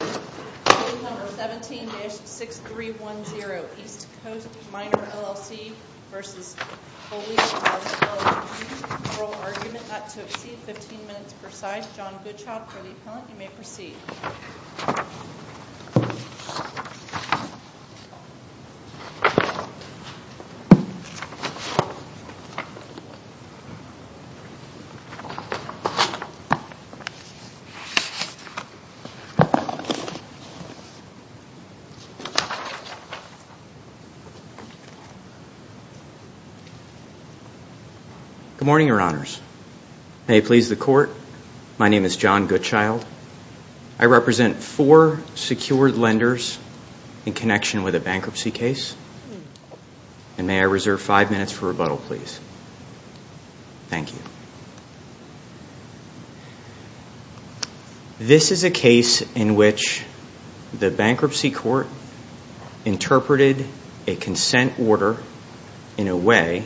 Case No. 17-6310 East Coast Miner LLC v. Holyfield LLP Oral argument not to exceed 15 minutes per side John Goodchild for the appellant. You may proceed. Good morning, your honors. May it please the court, my name is John Goodchild. I represent four secured lenders in connection with a bankruptcy case. And may I reserve five minutes for rebuttal, please. Thank you. This is a case in which the bankruptcy court interpreted a consent order in a way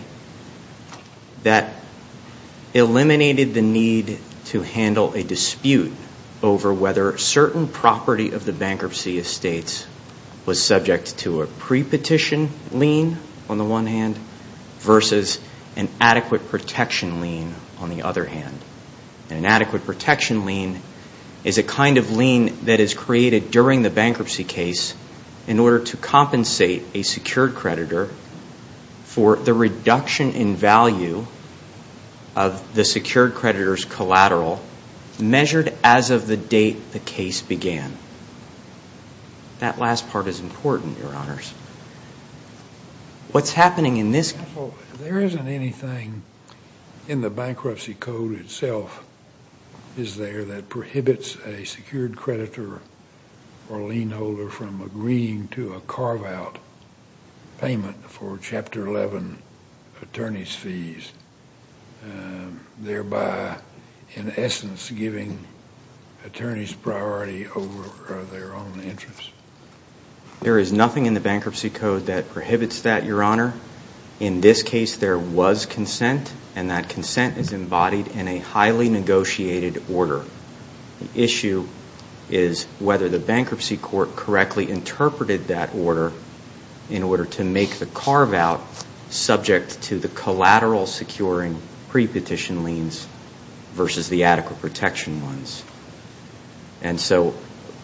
that eliminated the need to handle a dispute over whether certain property of the bankruptcy estates was subject to a pre-petition lien, on the one hand, versus an adequate protection lien, on the other hand. An adequate protection lien is a kind of lien that is created during the bankruptcy case in order to compensate a secured creditor for the reduction in value of the secured creditor's collateral measured as of the date the case began. That last part is important, your honors. What's happening in this case? There isn't anything in the bankruptcy code itself, is there, that prohibits a secured creditor or lien holder from agreeing to a carve-out payment for Chapter 11 attorney's fees, thereby, in essence, giving attorneys priority over their own interests. There is nothing in the bankruptcy code that prohibits that, your honor. In this case, there was consent, and that consent is embodied in a highly negotiated order. The issue is whether the bankruptcy court correctly interpreted that order in order to make the carve-out subject to the collateral securing pre-petition liens versus the adequate protection ones. And so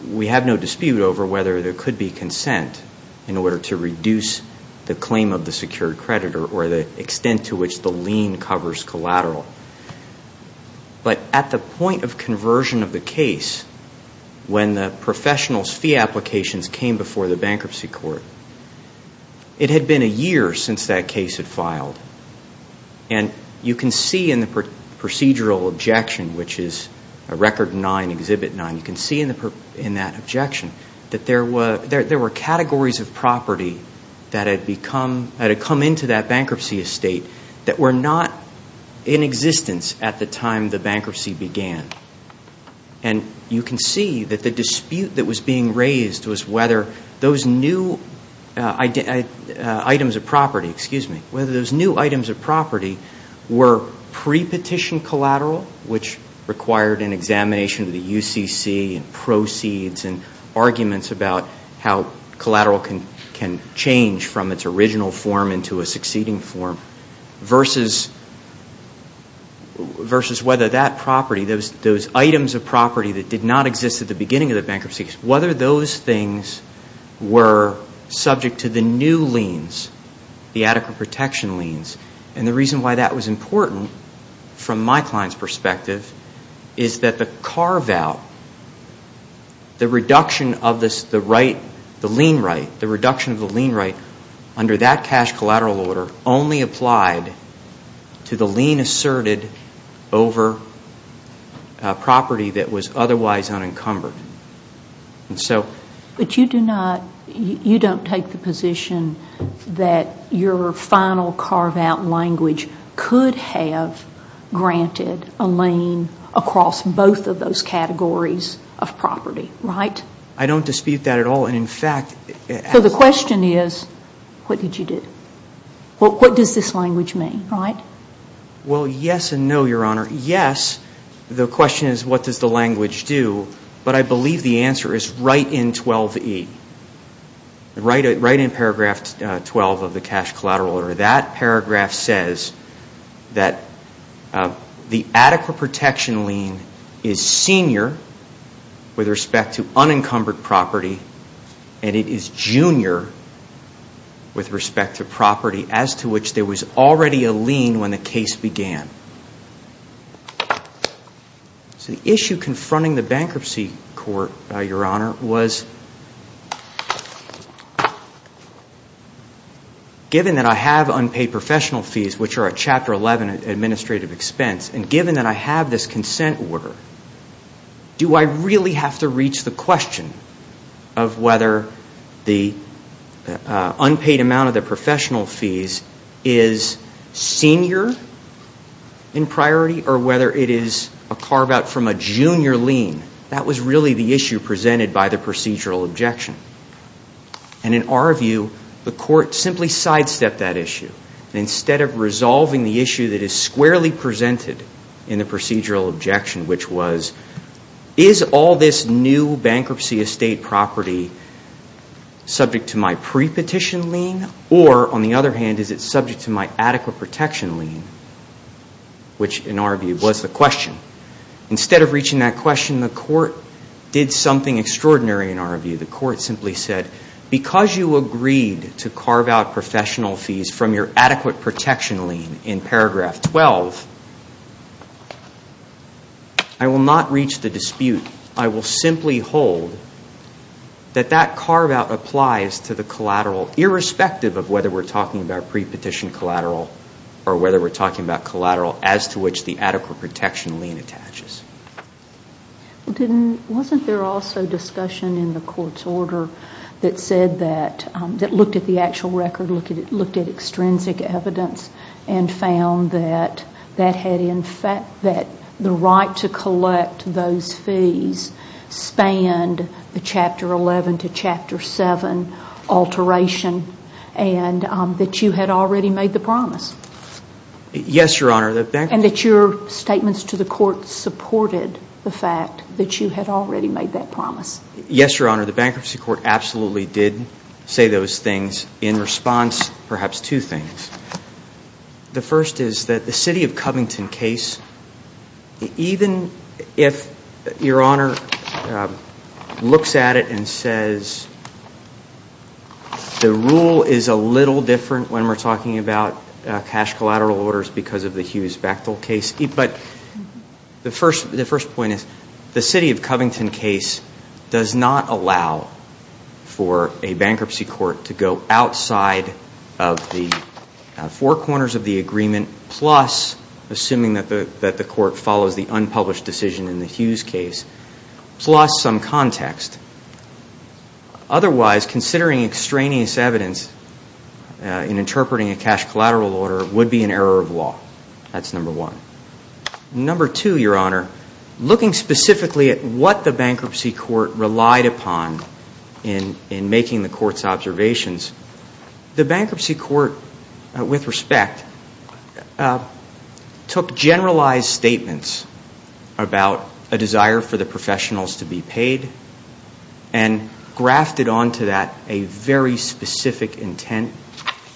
we have no dispute over whether there could be consent in order to reduce the claim of the secured creditor or the extent to which the lien covers collateral. But at the point of conversion of the case, when the professional's fee applications came before the bankruptcy court, it had been a year since that case had filed. And you can see in the procedural objection, which is Record 9, Exhibit 9, you can see in that objection that there were categories of property that had come into that bankruptcy estate that were not in existence at the time the bankruptcy began. And you can see that the dispute that was being raised was whether those new items of property were pre-petition collateral, which required an examination of the UCC and proceeds and arguments about how collateral can change from its original form into a succeeding form, versus whether that property, those items of property that did not exist at the beginning of the bankruptcy case, whether those things were subject to the new liens, the adequate protection liens. And the reason why that was important from my client's perspective is that the carve-out, the reduction of the lien right under that cash collateral order only applied to the lien asserted over property that was otherwise unencumbered. But you do not, you don't take the position that your final carve-out language could have granted a lien across both of those categories of property, right? I don't dispute that at all. So the question is, what did you do? What does this language mean, right? Well, yes and no, Your Honor. Yes, the question is, what does the language do? But I believe the answer is right in 12E, right in paragraph 12 of the cash collateral order. That paragraph says that the adequate protection lien is senior with respect to unencumbered property, and it is junior with respect to property as to which there was already a lien when the case began. So the issue confronting the bankruptcy court, Your Honor, was given that I have unpaid professional fees, which are a Chapter 11 administrative expense, and given that I have this consent order, do I really have to reach the question of whether the unpaid amount of the professional fees is senior in priority or whether it is a carve-out from a junior lien? That was really the issue presented by the procedural objection. And in our view, the court simply sidestepped that issue. Instead of resolving the issue that is squarely presented in the procedural objection, which was, is all this new bankruptcy estate property subject to my pre-petition lien, or on the other hand, is it subject to my adequate protection lien, which in our view was the question. Instead of reaching that question, the court did something extraordinary in our view. The court simply said, because you agreed to carve out professional fees from your adequate protection lien in paragraph 12, I will not reach the dispute. I will simply hold that that carve-out applies to the collateral, irrespective of whether we're talking about pre-petition collateral or whether we're talking about collateral as to which the adequate protection lien attaches. Wasn't there also discussion in the court's order that looked at the actual record, looked at extrinsic evidence, and found that the right to collect those fees spanned the Chapter 11 to Chapter 7 alteration and that you had already made the promise? Yes, Your Honor. And that your statements to the court supported the fact that you had already made that promise? Yes, Your Honor. The bankruptcy court absolutely did say those things in response, perhaps, to things. The first is that the City of Covington case, even if Your Honor looks at it and says the rule is a little different when we're talking about cash collateral orders because of the Hughes-Bactel case. But the first point is the City of Covington case does not allow for a bankruptcy court to go outside of the four corners of the agreement, plus assuming that the court follows the unpublished decision in the Hughes case, plus some context. Otherwise, considering extraneous evidence in interpreting a cash collateral order would be an error of law. That's number one. Number two, Your Honor, looking specifically at what the bankruptcy court relied upon in making the court's observations, the bankruptcy court, with respect, took generalized statements about a desire for the professionals to be paid and grafted onto that a very specific intent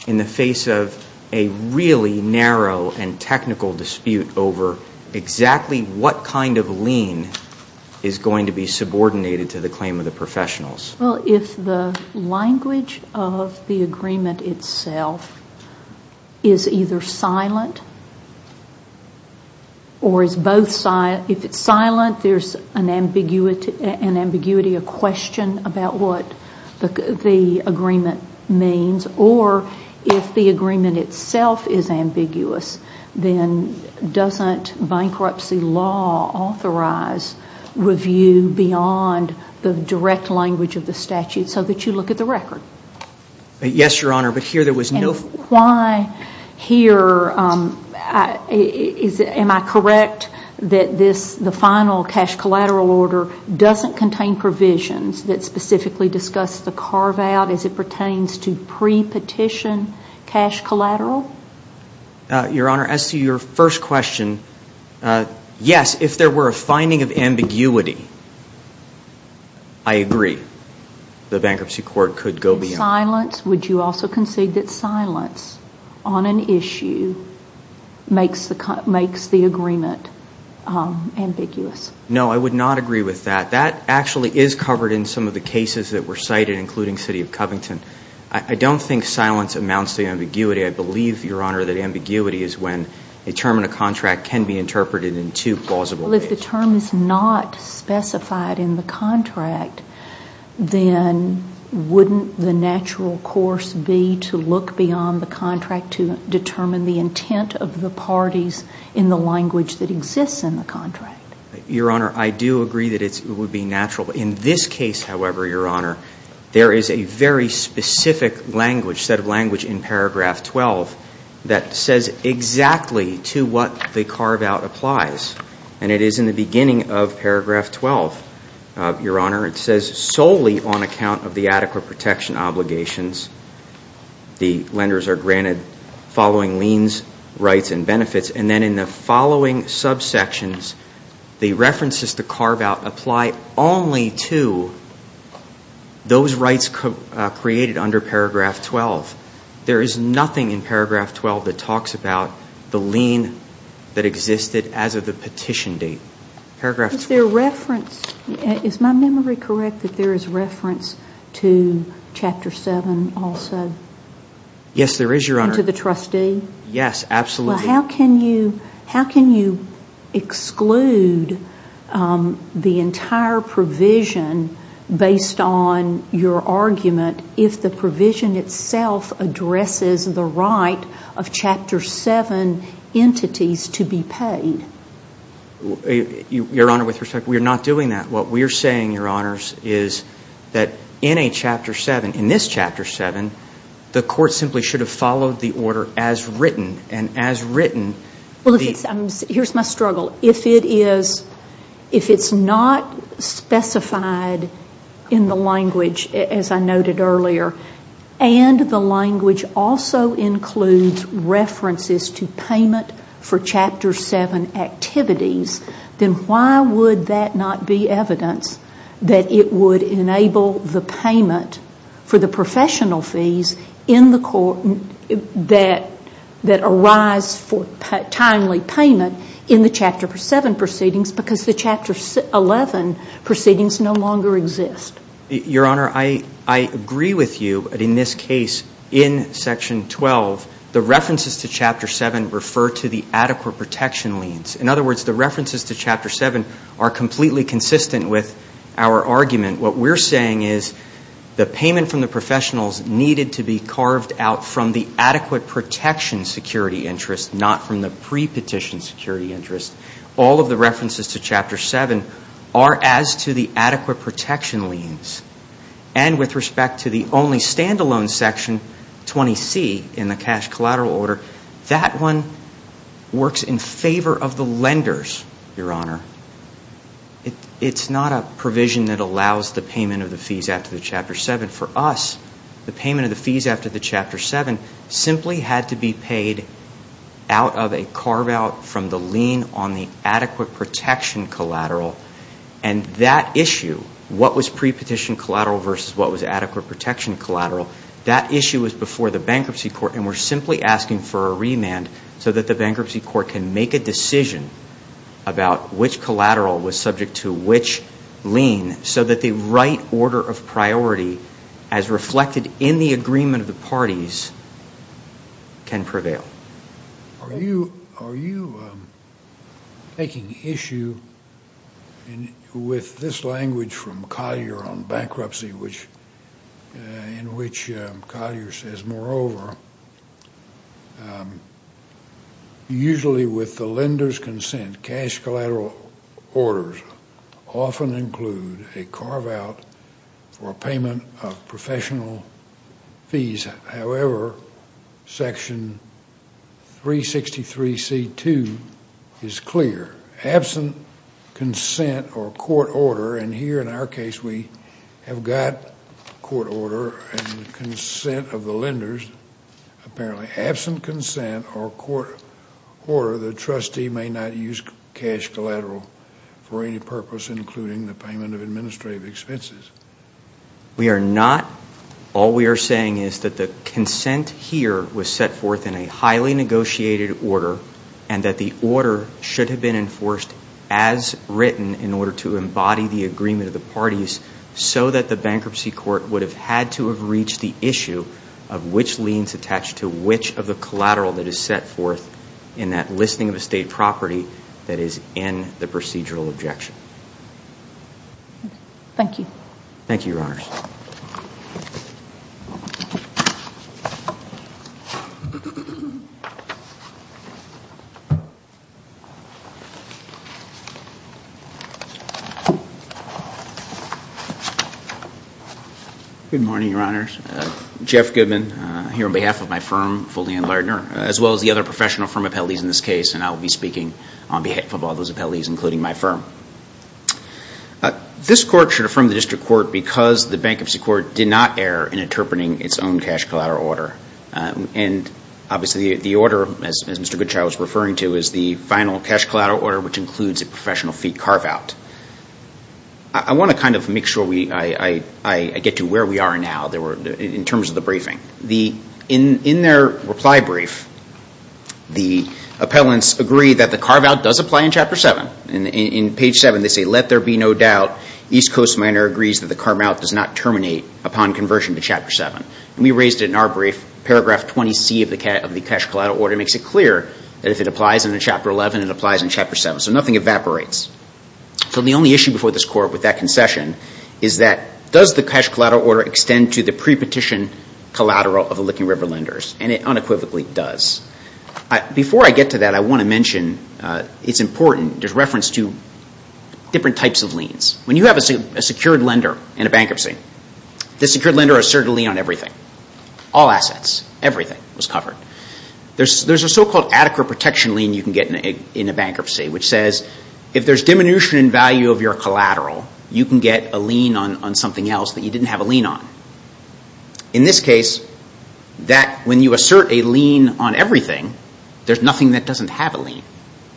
in the face of a really narrow and technical dispute. Over exactly what kind of lien is going to be subordinated to the claim of the professionals? Well, if the language of the agreement itself is either silent or is both silent, if it's silent, there's an ambiguity, a question about what the agreement means. Or if the agreement itself is ambiguous, then doesn't bankruptcy law authorize review beyond the direct language of the statute so that you look at the record? Yes, Your Honor, but here there was no... Why here, am I correct that the final cash collateral order doesn't contain provisions that specifically discuss the carve-out as it pertains to pre-petition cash collateral? Your Honor, as to your first question, yes, if there were a finding of ambiguity, I agree, the bankruptcy court could go beyond... Silence, would you also concede that silence on an issue makes the agreement ambiguous? No, I would not agree with that. That actually is covered in some of the cases that were cited, including City of Covington. I don't think silence amounts to ambiguity. I believe, Your Honor, that ambiguity is when a term in a contract can be interpreted in two plausible ways. Well, if the term is not specified in the contract, then wouldn't the natural course be to look beyond the contract to determine the intent of the parties in the language that exists in the contract? Your Honor, I do agree that it would be natural. In this case, however, Your Honor, there is a very specific set of language in paragraph 12 that says exactly to what the carve-out applies, and it is in the beginning of paragraph 12, Your Honor. It says, solely on account of the adequate protection obligations, the lenders are granted following liens, rights, and benefits. And then in the following subsections, the references to carve-out apply only to those rights created under paragraph 12. There is nothing in paragraph 12 that talks about the lien that existed as of the petition date. Is my memory correct that there is reference to chapter 7 also? Yes, there is, Your Honor. And to the trustee? Yes, absolutely. Well, how can you exclude the entire provision based on your argument if the provision itself addresses the right of chapter 7 entities to be paid? Your Honor, with respect, we are not doing that. What we are saying, Your Honors, is that in a chapter 7, in this chapter 7, the court simply should have followed the order as written. Well, here is my struggle. If it is not specified in the language, as I noted earlier, and the language also includes references to payment for chapter 7 activities, then why would that not be evidence that it would enable the payment for the professional fees in the court that arise for timely payment in the chapter 7 proceedings because the chapter 11 proceedings no longer exist? Your Honor, I agree with you that in this case, in section 12, the references to chapter 7 refer to the adequate protection liens. In other words, the references to chapter 7 are completely consistent with our argument. What we are saying is the payment from the professionals needed to be carved out from the adequate protection security interest, not from the pre-petition security interest. All of the references to chapter 7 are as to the adequate protection liens. And with respect to the only stand-alone section, 20C, in the cash collateral order, that one works in favor of the lenders, Your Honor. It is not a provision that allows the payment of the fees after the chapter 7. For us, the payment of the fees after the chapter 7 simply had to be paid out of a carve-out from the lien on the adequate protection collateral. And that issue, what was pre-petition collateral versus what was adequate protection collateral, that issue was before the bankruptcy court. And we're simply asking for a remand so that the bankruptcy court can make a decision about which collateral was subject to which lien so that the right order of priority, as reflected in the agreement of the parties, can prevail. Are you taking issue with this language from Collier on bankruptcy in which Collier says, And moreover, usually with the lender's consent, cash collateral orders often include a carve-out for payment of professional fees. However, Section 363C.2 is clear. Absent consent or court order, and here in our case we have got court order and consent of the lenders, apparently absent consent or court order, the trustee may not use cash collateral for any purpose, including the payment of administrative expenses. We are not. All we are saying is that the consent here was set forth in a highly negotiated order and that the order should have been enforced as written in order to embody the agreement of the parties so that the bankruptcy court would have had to have reached the issue of which liens attached to which of the collateral that is set forth in that listing of estate property that is in the procedural objection. Thank you. Thank you, Your Honors. Good morning, Your Honors. Jeff Goodman here on behalf of my firm, Fully and Lardner, as well as the other professional firm appellees in this case, and I will be speaking on behalf of all those appellees, including my firm. This court should affirm the district court because the bankruptcy court did not err in interpreting its own cash collateral order, and obviously the order, as Mr. Goodchild was referring to, is the final cash collateral order, which includes a professional fee carve-out. I want to kind of make sure I get to where we are now in terms of the briefing. In their reply brief, the appellants agree that the carve-out does apply in Chapter 7. In page 7, they say, let there be no doubt. East Coast Minor agrees that the carve-out does not terminate upon conversion to Chapter 7. We raised it in our brief. Paragraph 20C of the cash collateral order makes it clear that if it applies in Chapter 11, it applies in Chapter 7. So nothing evaporates. So the only issue before this court with that concession is that does the cash collateral order extend to the pre-petition collateral of the Licking River lenders? And it unequivocally does. Before I get to that, I want to mention it's important, there's reference to different types of liens. When you have a secured lender in a bankruptcy, the secured lender asserted a lien on everything, all assets, everything was covered. There's a so-called adequate protection lien you can get in a bankruptcy, which says if there's diminution in value of your collateral, you can get a lien on something else that you didn't have a lien on. In this case, when you assert a lien on everything, there's nothing that doesn't have a lien.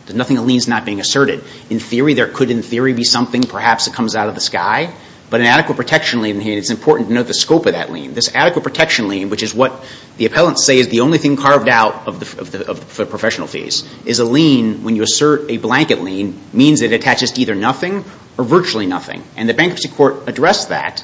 There's nothing a lien is not being asserted. In theory, there could in theory be something, perhaps it comes out of the sky. But an adequate protection lien, it's important to know the scope of that lien. This adequate protection lien, which is what the appellants say is the only thing carved out of the professional fees, is a lien when you assert a blanket lien means it attaches to either nothing or virtually nothing. And the bankruptcy court addressed that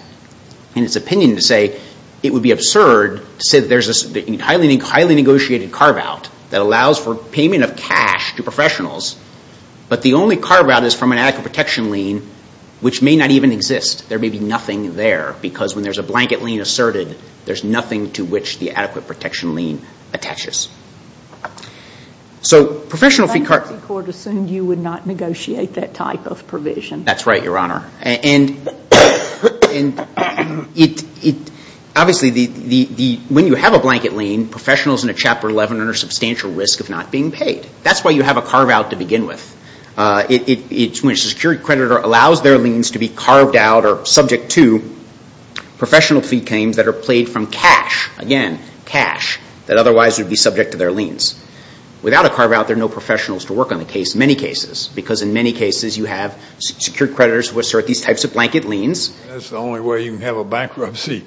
in its opinion to say it would be absurd to say there's a highly negotiated carve-out that allows for payment of cash to professionals, but the only carve-out is from an adequate protection lien, which may not even exist. There may be nothing there, because when there's a blanket lien asserted, there's nothing to which the adequate protection lien attaches. So professional fee – The bankruptcy court assumed you would not negotiate that type of provision. That's right, Your Honor. And obviously, when you have a blanket lien, professionals in a Chapter 11 are under substantial risk of not being paid. That's why you have a carve-out to begin with. It's when a secured creditor allows their liens to be carved out or subject to professional fee claims that are paid from cash, again, cash, that otherwise would be subject to their liens. Without a carve-out, there are no professionals to work on the case in many cases, because in many cases you have secured creditors who assert these types of blanket liens. That's the only way you can have a bankruptcy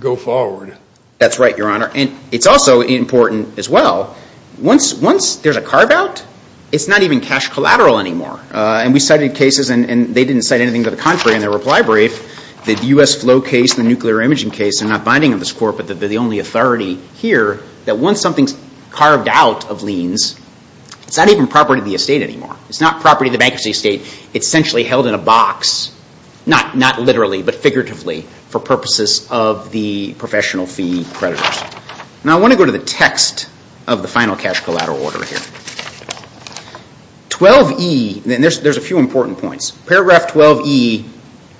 go forward. That's right, Your Honor. And it's also important as well, once there's a carve-out, it's not even cash collateral anymore. And we cited cases, and they didn't cite anything to the contrary in their reply brief, the U.S. Flow case, the nuclear imaging case, they're not binding on this court, but they're the only authority here that once something's carved out of liens, it's not even property of the estate anymore. It's not property of the bankruptcy estate. It's essentially held in a box, not literally, but figuratively, for purposes of the professional fee creditors. Now, I want to go to the text of the final cash collateral order here. 12E, and there's a few important points. Paragraph 12E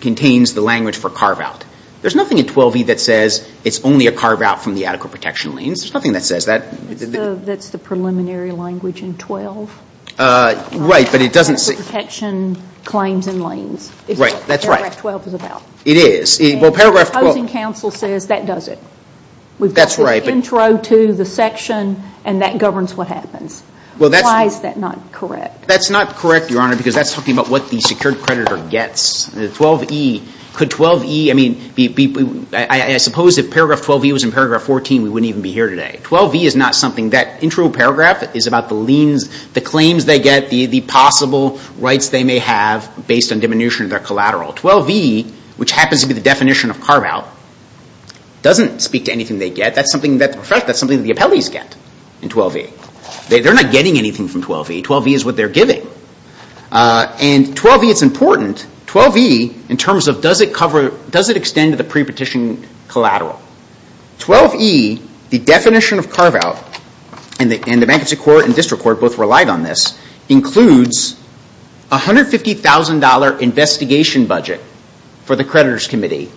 contains the language for carve-out. There's nothing in 12E that says it's only a carve-out from the adequate protection liens. There's nothing that says that. That's the preliminary language in 12. Right, but it doesn't say – Adequate protection claims and liens. Right, that's right. That's what paragraph 12 is about. It is. And the opposing counsel says that does it. That's right. We've got the intro to the section, and that governs what happens. Why is that not correct? That's not correct, Your Honor, because that's talking about what the secured creditor gets. 12E, could 12E, I mean, I suppose if paragraph 12E was in paragraph 14, we wouldn't even be here today. 12E is not something – that intro paragraph is about the claims they get, the possible rights they may have based on diminution of their collateral. 12E, which happens to be the definition of carve-out, doesn't speak to anything they get. That's something that the appellees get in 12E. They're not getting anything from 12E. 12E is what they're giving. And 12E, it's important. 12E, in terms of does it extend to the pre-petition collateral. 12E, the definition of carve-out, and the bankruptcy court and district court both relied on this, includes a $150,000 investigation budget for the creditors' committee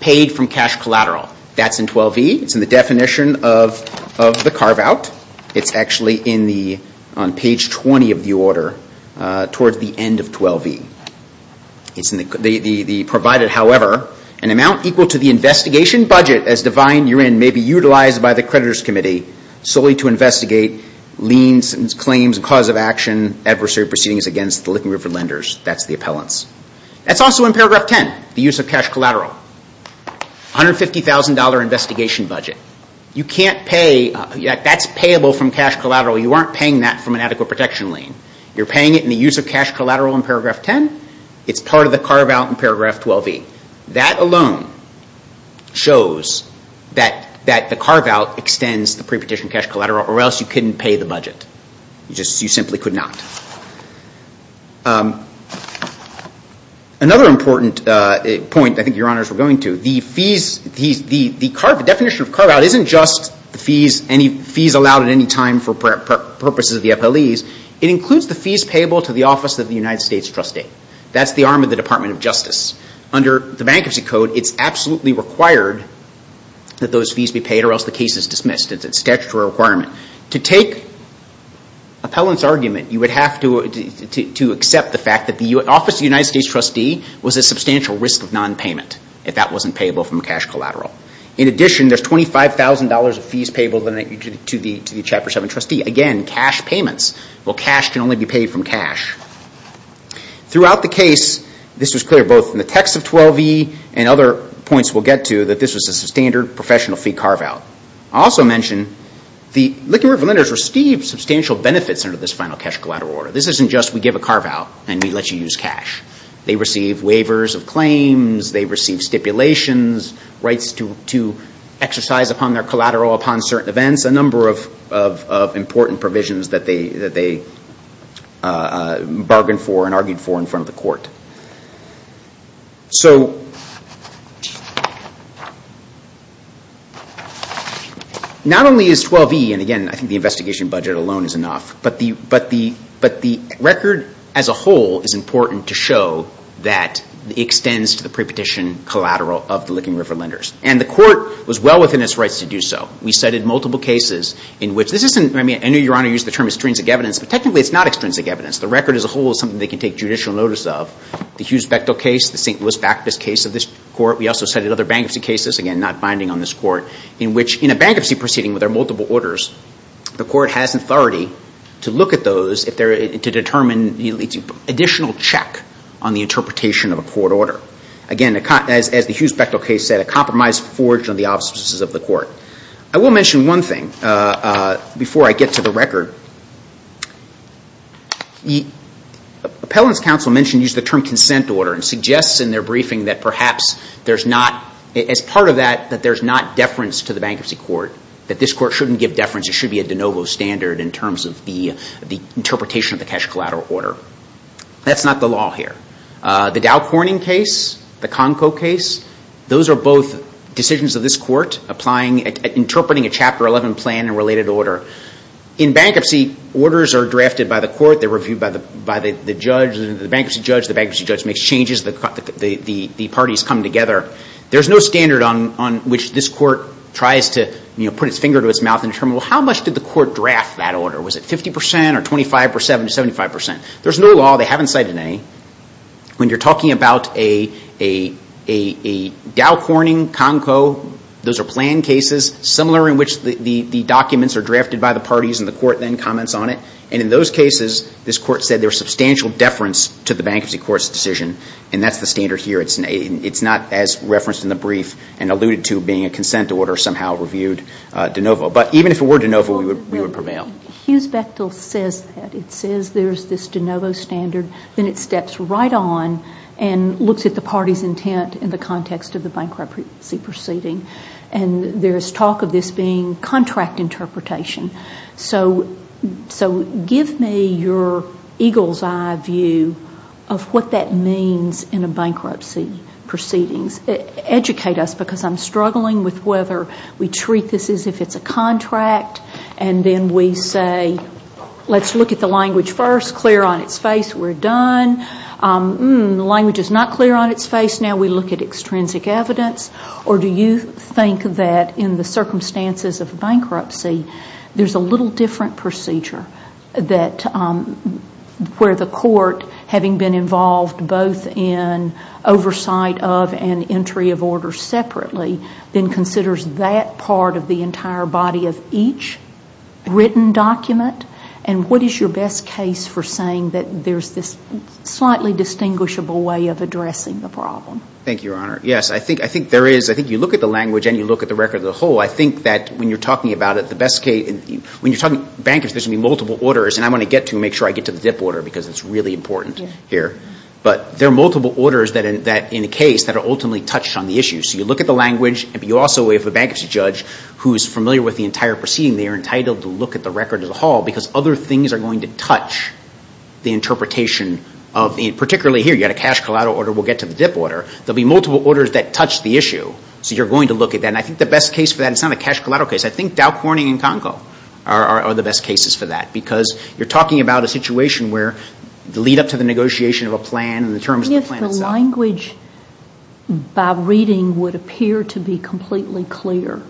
paid from cash collateral. That's in 12E. It's in the definition of the carve-out. It's actually on page 20 of the order towards the end of 12E. It's in the provided, however. An amount equal to the investigation budget, as defined herein, may be utilized by the creditors' committee solely to investigate liens, claims, and cause of action, adversary proceedings against the Licking River lenders. That's the appellants. That's also in paragraph 10, the use of cash collateral. $150,000 investigation budget. You can't pay – that's payable from cash collateral. You aren't paying that from an adequate protection lien. You're paying it in the use of cash collateral in paragraph 10. It's part of the carve-out in paragraph 12E. That alone shows that the carve-out extends the pre-petition cash collateral, or else you couldn't pay the budget. You simply could not. Another important point I think Your Honors were going to, the fees – the definition of carve-out isn't just the fees allowed at any time for purposes of the FLEs. It includes the fees payable to the office of the United States trustee. That's the arm of the Department of Justice. Under the Bankruptcy Code, it's absolutely required that those fees be paid, or else the case is dismissed. It's a statutory requirement. To take appellants' argument, you would have to accept the fact that the office of the United States trustee was a substantial risk of nonpayment if that wasn't payable from cash collateral. In addition, there's $25,000 of fees payable to the Chapter 7 trustee. Again, cash payments. Well, cash can only be paid from cash. Throughout the case, this was clear both in the text of 12E and other points we'll get to, that this was a standard professional fee carve-out. I'll also mention the liquidators receive substantial benefits under this final cash collateral order. This isn't just we give a carve-out and we let you use cash. They receive waivers of claims. They receive stipulations, rights to exercise upon their collateral upon certain events, a number of important provisions that they bargained for and argued for in front of the court. So not only is 12E, and again, I think the investigation budget alone is enough, but the record as a whole is important to show that it extends to the prepetition collateral of the Licking River Lenders. And the court was well within its rights to do so. We cited multiple cases in which this isn't, I mean, I know Your Honor used the term extrinsic evidence, but technically it's not extrinsic evidence. The record as a whole is something they can take judicial notice of. The Hughes-Bechtel case, the St. Louis Bacchus case of this court, we also cited other bankruptcy cases, again, not binding on this court, in which in a bankruptcy proceeding where there are multiple orders, the court has authority to look at those to determine additional check on the interpretation of a court order. Again, as the Hughes-Bechtel case said, a compromise forged on the obstacles of the court. I will mention one thing before I get to the record. Appellant's counsel mentioned using the term consent order and suggests in their briefing that perhaps there's not, as part of that, that there's not deference to the bankruptcy court, that this court shouldn't give deference, it should be a de novo standard in terms of the interpretation of the cash collateral order. That's not the law here. The Dow Corning case, the Conco case, those are both decisions of this court applying, interpreting a Chapter 11 plan and related order. In bankruptcy, orders are drafted by the court. They're reviewed by the judge, the bankruptcy judge. The bankruptcy judge makes changes. The parties come together. There's no standard on which this court tries to, you know, put its finger to its mouth and determine, well, how much did the court draft that order? Was it 50 percent or 25 percent or 75 percent? There's no law. They haven't cited an A. When you're talking about a Dow Corning, Conco, those are plan cases, similar in which the documents are drafted by the parties and the court then comments on it. And in those cases, this court said there was substantial deference to the bankruptcy court's decision, and that's the standard here. It's not as referenced in the brief and alluded to being a consent order somehow reviewed de novo. But even if it were de novo, we would prevail. Well, Hughes-Bechtel says that. It says there's this de novo standard. Then it steps right on and looks at the party's intent in the context of the bankruptcy proceeding. And there's talk of this being contract interpretation. So give me your eagle's eye view of what that means in a bankruptcy proceedings. Educate us, because I'm struggling with whether we treat this as if it's a contract and then we say, let's look at the language first, clear on its face, we're done. The language is not clear on its face. Now we look at extrinsic evidence. Or do you think that in the circumstances of bankruptcy, there's a little different procedure where the court, having been involved both in oversight of separately, then considers that part of the entire body of each written document? And what is your best case for saying that there's this slightly distinguishable way of addressing the problem? Thank you, Your Honor. Yes, I think there is. I think you look at the language and you look at the record as a whole. I think that when you're talking about it, the best case ñ when you're talking bankruptcy, there's going to be multiple orders, and I want to get to them, make sure I get to the ZIP order, because it's really important here. But there are multiple orders in a case that are ultimately touched on the issue. So you look at the language, but you also, if a bankruptcy judge who is familiar with the entire proceeding, they are entitled to look at the record as a whole, because other things are going to touch the interpretation. Particularly here, you've got a cash collateral order, we'll get to the ZIP order. There will be multiple orders that touch the issue, so you're going to look at that. And I think the best case for that, and it's not a cash collateral case, I think Dow Corning and Conco are the best cases for that, because you're talking about a situation where the lead-up to the negotiation of a plan and the terms of the plan itself. If the language, by reading, would appear to be completely clear,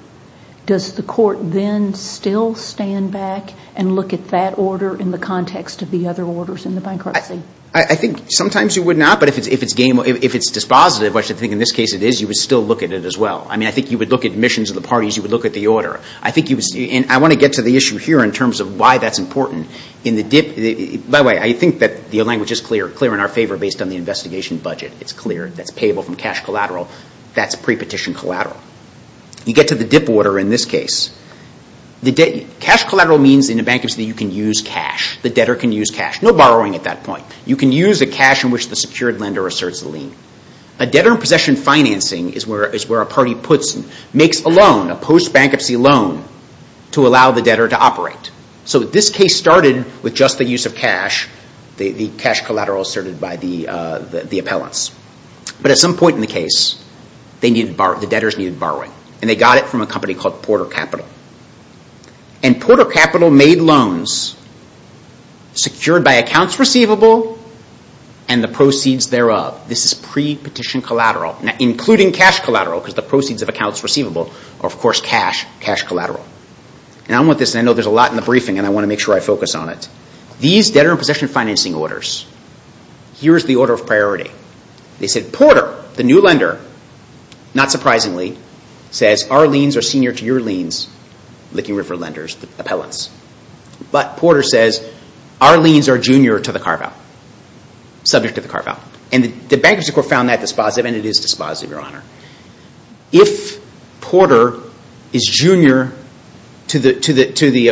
does the court then still stand back and look at that order in the context of the other orders in the bankruptcy? I think sometimes you would not, but if it's dispositive, which I think in this case it is, you would still look at it as well. I mean, I think you would look at admissions of the parties, you would look at the order. And I want to get to the issue here in terms of why that's important. By the way, I think that the language is clear in our favor based on the investigation budget. It's clear that's payable from cash collateral. That's pre-petition collateral. You get to the ZIP order in this case. Cash collateral means in a bankruptcy that you can use cash. The debtor can use cash. No borrowing at that point. You can use the cash in which the secured lender asserts the lien. A debtor in possession financing is where a party makes a loan, a post-bankruptcy loan, to allow the debtor to operate. So this case started with just the use of cash, the cash collateral asserted by the appellants. But at some point in the case, the debtors needed borrowing. And they got it from a company called Porter Capital. And Porter Capital made loans secured by accounts receivable and the proceeds thereof. This is pre-petition collateral. Now, including cash collateral, because the proceeds of accounts receivable are, of course, cash collateral. And I know there's a lot in the briefing, and I want to make sure I focus on it. These debtor in possession financing orders, here is the order of priority. They said, Porter, the new lender, not surprisingly, says, our liens are senior to your liens, Licking River Lenders, the appellants. But Porter says, our liens are junior to the carve-out, subject to the carve-out. And the bankruptcy court found that dispositive, and it is dispositive, Your Honor. If Porter is junior to the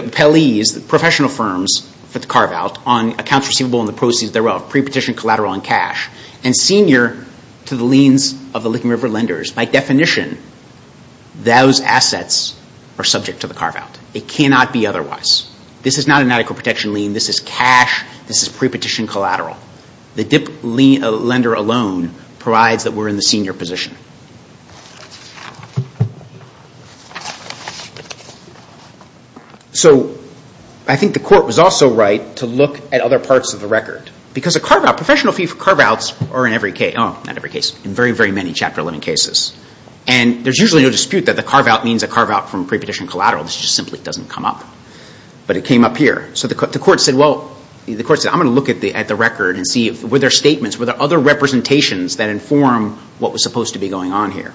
appellees, the professional firms for the carve-out, on accounts receivable and the proceeds thereof, pre-petition collateral and cash, and senior to the liens of the Licking River Lenders, by definition, those assets are subject to the carve-out. It cannot be otherwise. This is not an adequate protection lien. This is cash. This is pre-petition collateral. The dip lender alone provides that we're in the senior position. So I think the court was also right to look at other parts of the record. Because a carve-out, professional fee for carve-outs are in every case, oh, not every case, in very, very many Chapter 11 cases. And there's usually no dispute that the carve-out means a carve-out from pre-petition collateral. This just simply doesn't come up. But it came up here. So the court said, well, I'm going to look at the record and see were there statements, were there other representations that inform what was supposed to be going on here.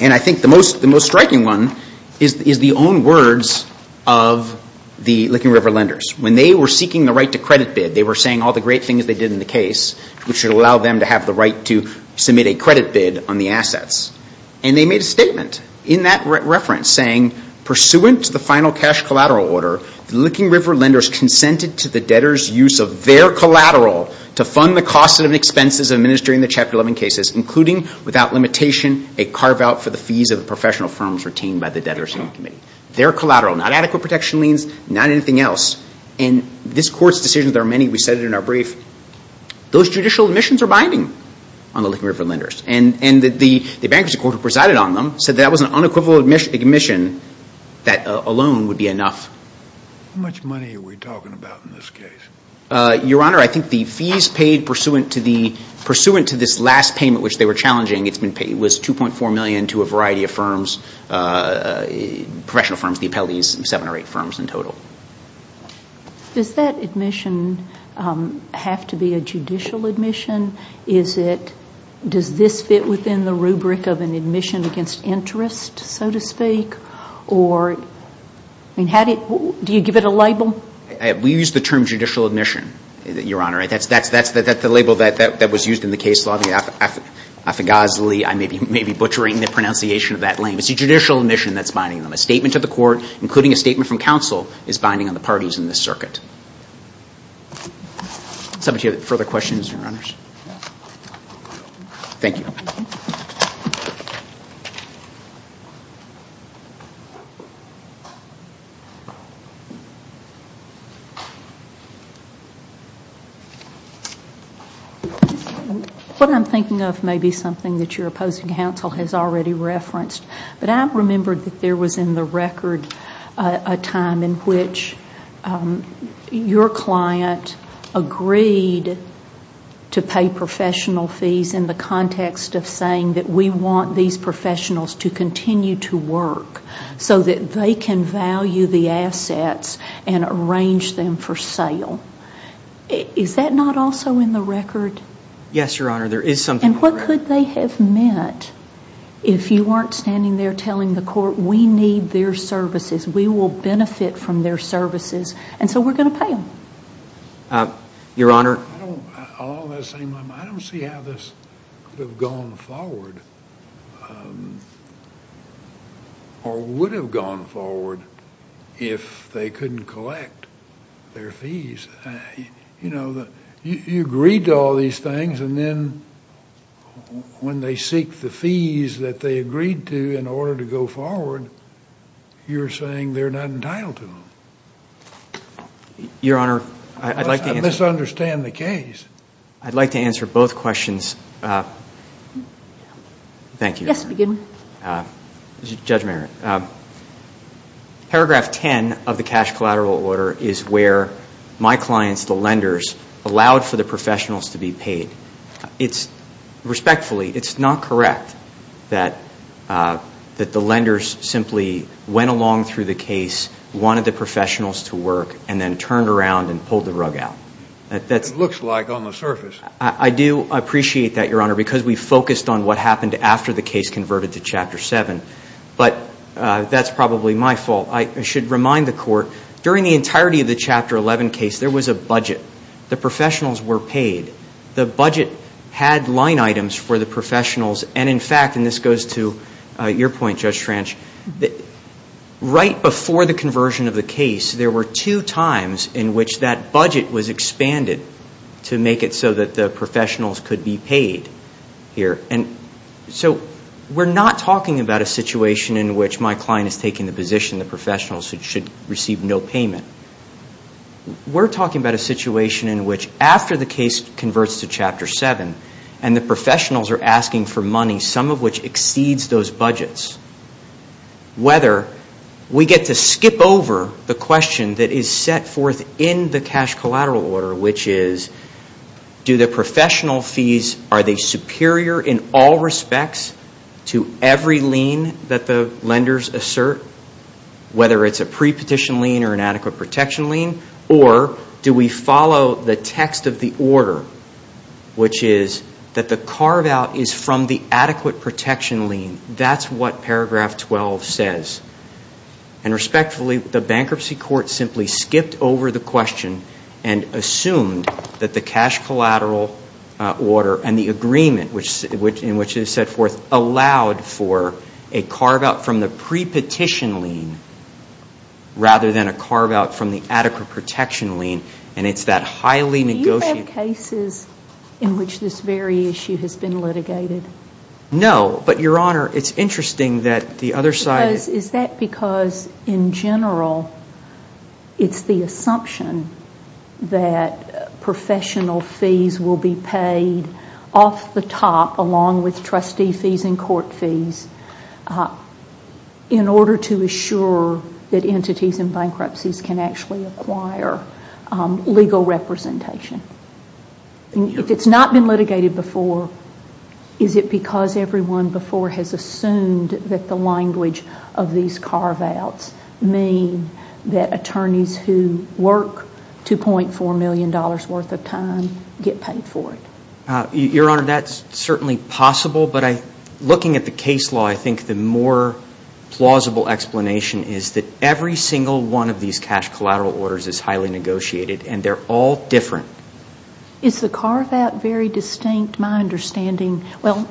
And I think the most striking one is the own words of the Licking River Lenders. When they were seeking the right to credit bid, they were saying all the great things they did in the case, which would allow them to have the right to submit a credit bid on the assets. And they made a statement in that reference saying, pursuant to the final cash collateral order, the Licking River Lenders consented to the debtors' use of their collateral to fund the costs and expenses of administering the Chapter 11 cases, including, without limitation, a carve-out for the fees of the professional firms retained by the debtors' loan committee. Their collateral, not adequate protection liens, not anything else. And this Court's decision, there are many, we said it in our brief, those judicial admissions are binding on the Licking River Lenders. And the bankruptcy court who presided on them said that was an unequivocal admission that a loan would be enough. How much money are we talking about in this case? Your Honor, I think the fees paid pursuant to this last payment, which they were challenging, was $2.4 million to a variety of firms, professional firms, the appellees, seven or eight firms in total. Does that admission have to be a judicial admission? Is it, does this fit within the rubric of an admission against interest, so to speak? Or, I mean, how do you, do you give it a label? We use the term judicial admission, Your Honor. That's the label that was used in the case law. Affegosley, I may be butchering the pronunciation of that name. It's a judicial admission that's binding them. A statement to the Court, including a statement from counsel, is binding on the parties in this circuit. Does somebody have any further questions, Your Honors? No. Thank you. What I'm thinking of may be something that your opposing counsel has already referenced, but I remembered that there was in the record a time in which your client agreed to pay professional fees in the context of saying that we want these professionals to continue to work so that they can value the assets and arrange them for sale. Is that not also in the record? Yes, Your Honor. There is something there. And what could they have meant if you weren't standing there telling the Court, we need their services, we will benefit from their services, and so we're going to pay them? Your Honor? I don't see how this could have gone forward, or would have gone forward if they couldn't collect their fees. You know, you agreed to all these things, and then when they seek the fees that they agreed to in order to go forward, you're saying they're not entitled to them. Your Honor, I'd like to answer. I misunderstand the case. I'd like to answer both questions. Thank you. Yes, begin. Judge Merritt, paragraph 10 of the cash collateral order is where my clients, the lenders, allowed for the professionals to be paid. Respectfully, it's not correct that the lenders simply went along through the case, wanted the professionals to work, and then turned around and pulled the rug out. It looks like on the surface. I do appreciate that, Your Honor, because we focused on what happened after the case converted to Chapter 7, but that's probably my fault. I should remind the Court, during the entirety of the Chapter 11 case, there was a budget. The professionals were paid. The budget had line items for the professionals, and in fact, and this goes to your point, Judge Tranch, right before the conversion of the case, there were two times in which that budget was expanded to make it so that the professionals could be paid here. So we're not talking about a situation in which my client is taking the position the professionals should receive no payment. We're talking about a situation in which after the case converts to Chapter 7 and the professionals are asking for money, some of which exceeds those budgets, whether we get to skip over the question that is set forth in the cash collateral order, which is do the professional fees, are they superior in all respects to every lien that the lenders assert, whether it's a pre-petition lien or an adequate protection lien, or do we follow the text of the order, which is that the carve-out is from the adequate protection lien. That's what Paragraph 12 says. And respectfully, the bankruptcy court simply skipped over the question and assumed that the cash collateral order and the agreement in which it is set forth allowed for a carve-out from the pre-petition lien rather than a carve-out from the adequate protection lien, and it's that highly negotiated ---- Do you have cases in which this very issue has been litigated? No. But, Your Honor, it's interesting that the other side ---- Is that because, in general, it's the assumption that professional fees will be paid off the top along with trustee fees and court fees in order to assure that entities in bankruptcies can actually acquire legal representation? If it's not been litigated before, is it because everyone before has assumed that the language of these carve-outs mean that attorneys who work $2.4 million worth of time get paid for it? Your Honor, that's certainly possible, but looking at the case law, I think the more plausible explanation is that every single one of these cash collateral orders is highly negotiated and they're all different. Is the carve-out very distinct? My understanding ---- Well,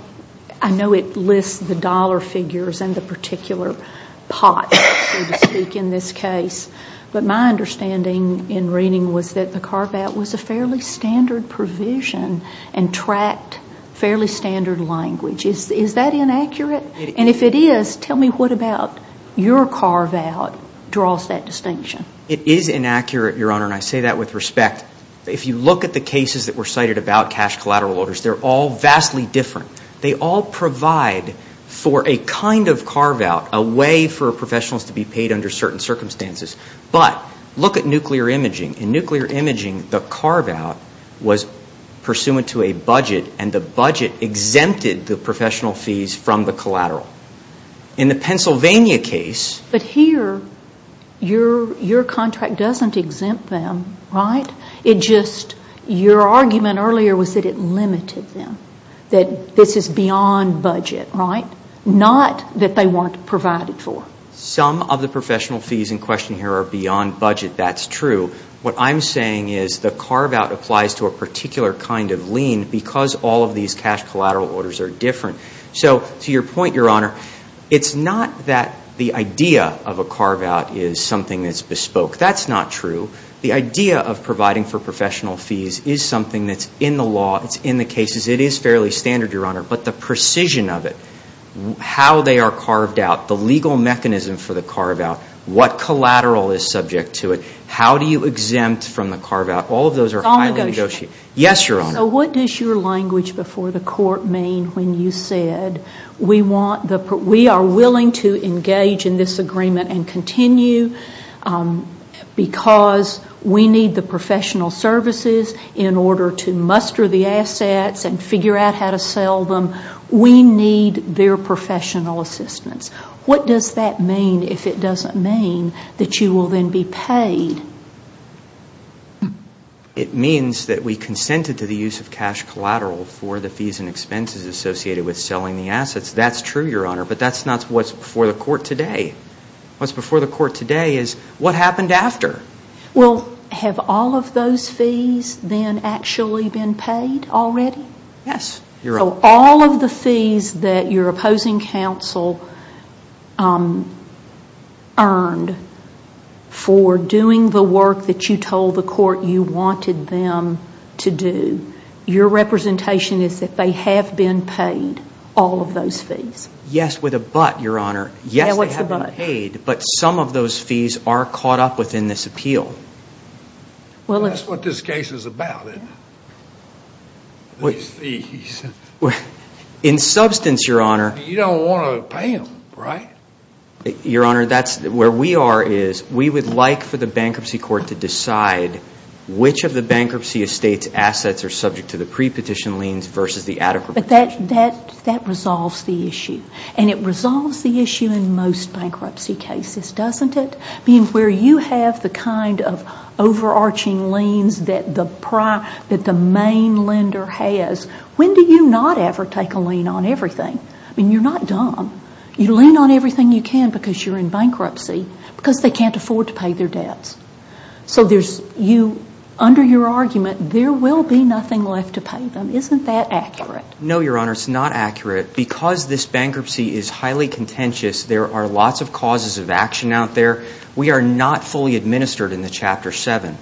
I know it lists the dollar figures and the particular pot, so to speak, in this case, but my understanding in reading was that the carve-out was a fairly standard provision and tracked fairly standard language. Is that inaccurate? And if it is, tell me what about your carve-out draws that distinction? It is inaccurate, Your Honor, and I say that with respect. If you look at the cases that were cited about cash collateral orders, they're all vastly different. They all provide for a kind of carve-out, a way for professionals to be paid under certain circumstances. But look at nuclear imaging. In nuclear imaging, the carve-out was pursuant to a budget, and the budget exempted the professional fees from the collateral. In the Pennsylvania case ---- But here, your contract doesn't exempt them, right? It just ---- Your argument earlier was that it limited them, that this is beyond budget, right? Not that they weren't provided for. Some of the professional fees in question here are beyond budget. That's true. What I'm saying is the carve-out applies to a particular kind of lien because all of these cash collateral orders are different. So to your point, Your Honor, it's not that the idea of a carve-out is something that's bespoke. That's not true. The idea of providing for professional fees is something that's in the law, it's in the cases. It is fairly standard, Your Honor. But the precision of it, how they are carved out, the legal mechanism for the carve-out, what collateral is subject to it, how do you exempt from the carve-out, all of those are highly negotiated. It's all negotiable. Yes, Your Honor. So what does your language before the court mean when you said, we are willing to engage in this agreement and continue because we need the professional services in order to muster the assets and figure out how to sell them. We need their professional assistance. What does that mean if it doesn't mean that you will then be paid? It means that we consented to the use of cash collateral for the fees and expenses associated with selling the assets. That's true, Your Honor. But that's not what's before the court today. What's before the court today is what happened after. Well, have all of those fees then actually been paid already? Yes, Your Honor. So all of the fees that your opposing counsel earned for doing the work that you told the court you wanted them to do, your representation is that they have been paid all of those fees. Yes, with a but, Your Honor. Yes, they have been paid. But some of those fees are caught up within this appeal. That's what this case is about, isn't it? These fees. In substance, Your Honor. You don't want to pay them, right? Your Honor, where we are is we would like for the bankruptcy court to decide which of the bankruptcy estate's assets are subject to the pre-petition liens versus the adequate. But that resolves the issue. And it resolves the issue in most bankruptcy cases, doesn't it? I mean, where you have the kind of overarching liens that the main lender has, when do you not ever take a lien on everything? I mean, you're not dumb. You lien on everything you can because you're in bankruptcy because they can't afford to pay their debts. So under your argument, there will be nothing left to pay them. Isn't that accurate? No, Your Honor. It's not accurate. Because this bankruptcy is highly contentious, there are lots of causes of action out there. We are not fully administered in the Chapter 7.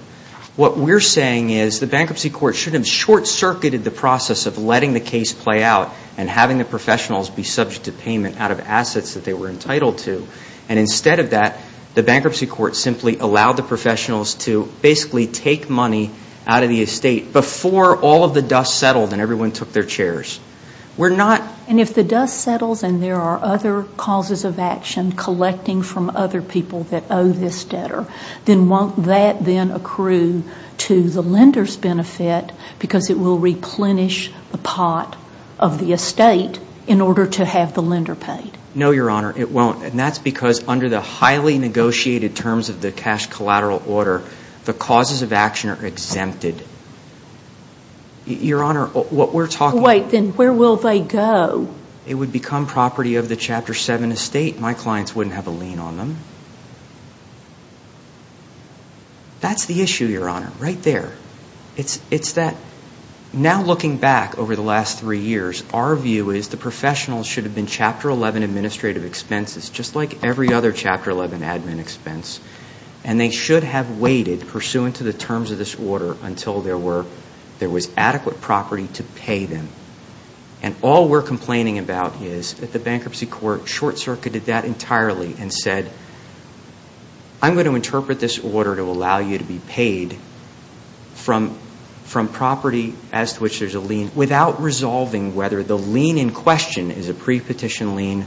What we're saying is the bankruptcy court shouldn't have short-circuited the process of letting the case play out and having the professionals be subject to payment out of assets that they were entitled to. And instead of that, the bankruptcy court simply allowed the professionals to basically take money out of the estate before all of the dust settled and everyone took their chairs. And if the dust settles and there are other causes of action collecting from other people that owe this debtor, then won't that then accrue to the lender's benefit because it will replenish the pot of the estate in order to have the lender paid? No, Your Honor. It won't. And that's because under the highly negotiated terms of the cash collateral order, the causes of action are exempted. Your Honor, what we're talking about... Wait, then where will they go? It would become property of the Chapter 7 estate. My clients wouldn't have a lien on them. That's the issue, Your Honor, right there. It's that now looking back over the last three years, our view is the professionals should have been Chapter 11 administrative expenses just like every other Chapter 11 admin expense, and they should have waited pursuant to the terms of this order until there was adequate property to pay them. And all we're complaining about is that the Bankruptcy Court short-circuited that entirely and said, I'm going to interpret this order to allow you to be paid from property as to which there's a lien without resolving whether the lien in question is a pre-petition lien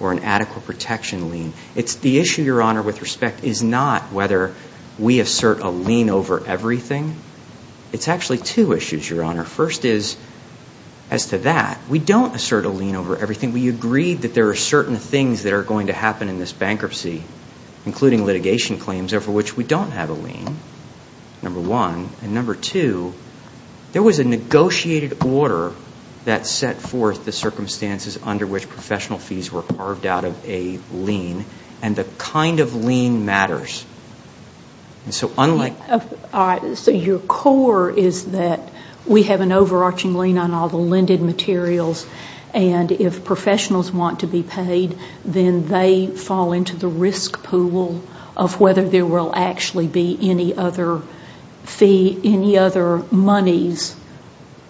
or an adequate protection lien. The issue, Your Honor, with respect is not whether we assert a lien over everything. It's actually two issues, Your Honor. First is, as to that, we don't assert a lien over everything. We agreed that there are certain things that are going to happen in this bankruptcy, including litigation claims over which we don't have a lien, number one. And number two, there was a negotiated order that set forth the circumstances under which professional fees were carved out of a lien. And the kind of lien matters. So unlike... All right. So your core is that we have an overarching lien on all the lended materials, and if professionals want to be paid, then they fall into the risk pool of whether there will actually be any other fee,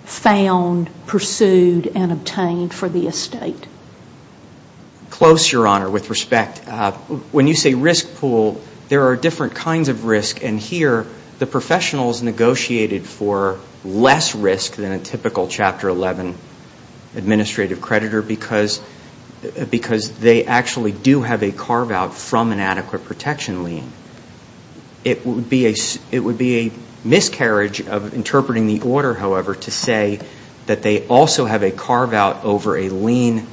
found, pursued, and obtained for the estate. Close, Your Honor, with respect. When you say risk pool, there are different kinds of risk, and here the professionals negotiated for less risk than a typical Chapter 11 administrative creditor because they actually do have a carve-out from an adequate protection lien. It would be a miscarriage of interpreting the order, however, to say that they also have a carve-out over a lien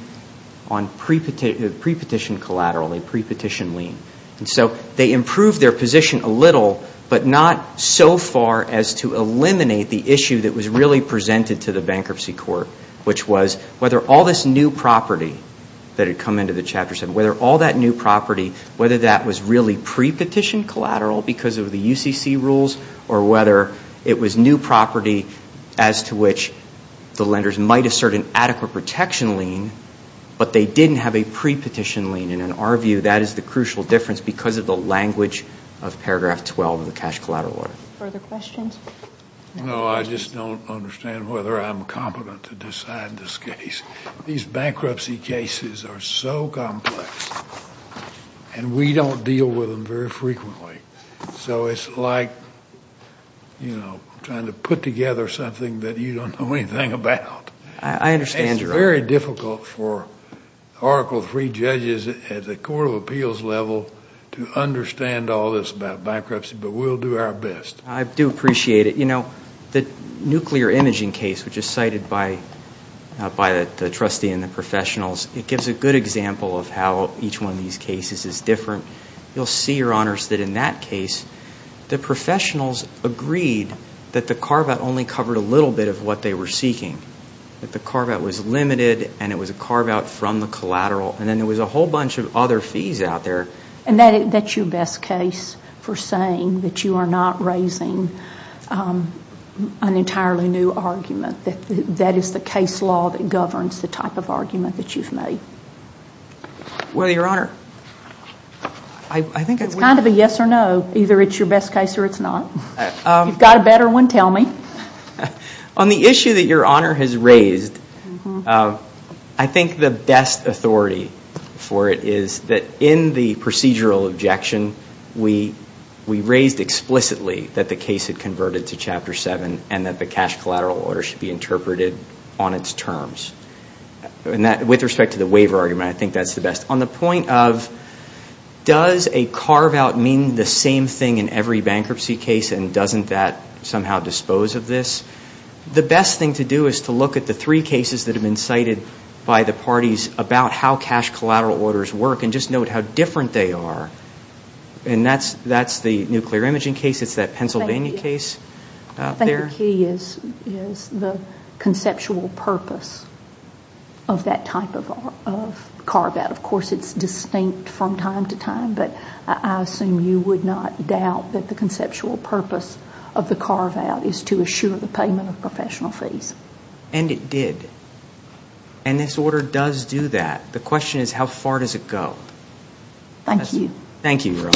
on pre-petition collateral, a pre-petition lien. And so they improved their position a little, but not so far as to eliminate the issue that was really presented to the bankruptcy court, which was whether all this new property that had come into the Chapter 7, whether all that new property, whether that was really pre-petition collateral because of the UCC rules or whether it was new property as to which the lenders might assert an adequate protection lien, but they didn't have a pre-petition lien. And in our view, that is the crucial difference because of the language of Paragraph 12 of the Cash Collateral Order. Further questions? No, I just don't understand whether I'm competent to decide this case. These bankruptcy cases are so complex, and we don't deal with them very frequently. So it's like trying to put together something that you don't know anything about. I understand your argument. It's very difficult for Article III judges at the court of appeals level to understand all this about bankruptcy, but we'll do our best. I do appreciate it. You know, the nuclear imaging case, which is cited by the trustee and the professionals, it gives a good example of how each one of these cases is different. You'll see, Your Honors, that in that case, the professionals agreed that the carve-out only covered a little bit of what they were seeking, that the carve-out was limited and it was a carve-out from the collateral, and then there was a whole bunch of other fees out there. And that's your best case for saying that you are not raising an entirely new argument, that that is the case law that governs the type of argument that you've made? Well, Your Honor, I think it's kind of a yes or no. Either it's your best case or it's not. If you've got a better one, tell me. On the issue that Your Honor has raised, I think the best authority for it is that in the procedural objection, we raised explicitly that the case had converted to Chapter 7 and that the cash collateral order should be interpreted on its terms. With respect to the waiver argument, I think that's the best. On the point of, does a carve-out mean the same thing in every bankruptcy case and doesn't that somehow dispose of this? The best thing to do is to look at the three cases that have been cited by the parties about how cash collateral orders work and just note how different they are. And that's the nuclear imaging case, it's that Pennsylvania case out there. I think the key is the conceptual purpose of that type of carve-out. Of course, it's distinct from time to time, but I assume you would not doubt that the conceptual purpose of the carve-out is to assure the payment of professional fees. And it did. And this order does do that. The question is, how far does it go? Thank you. Thank you, Your Honor.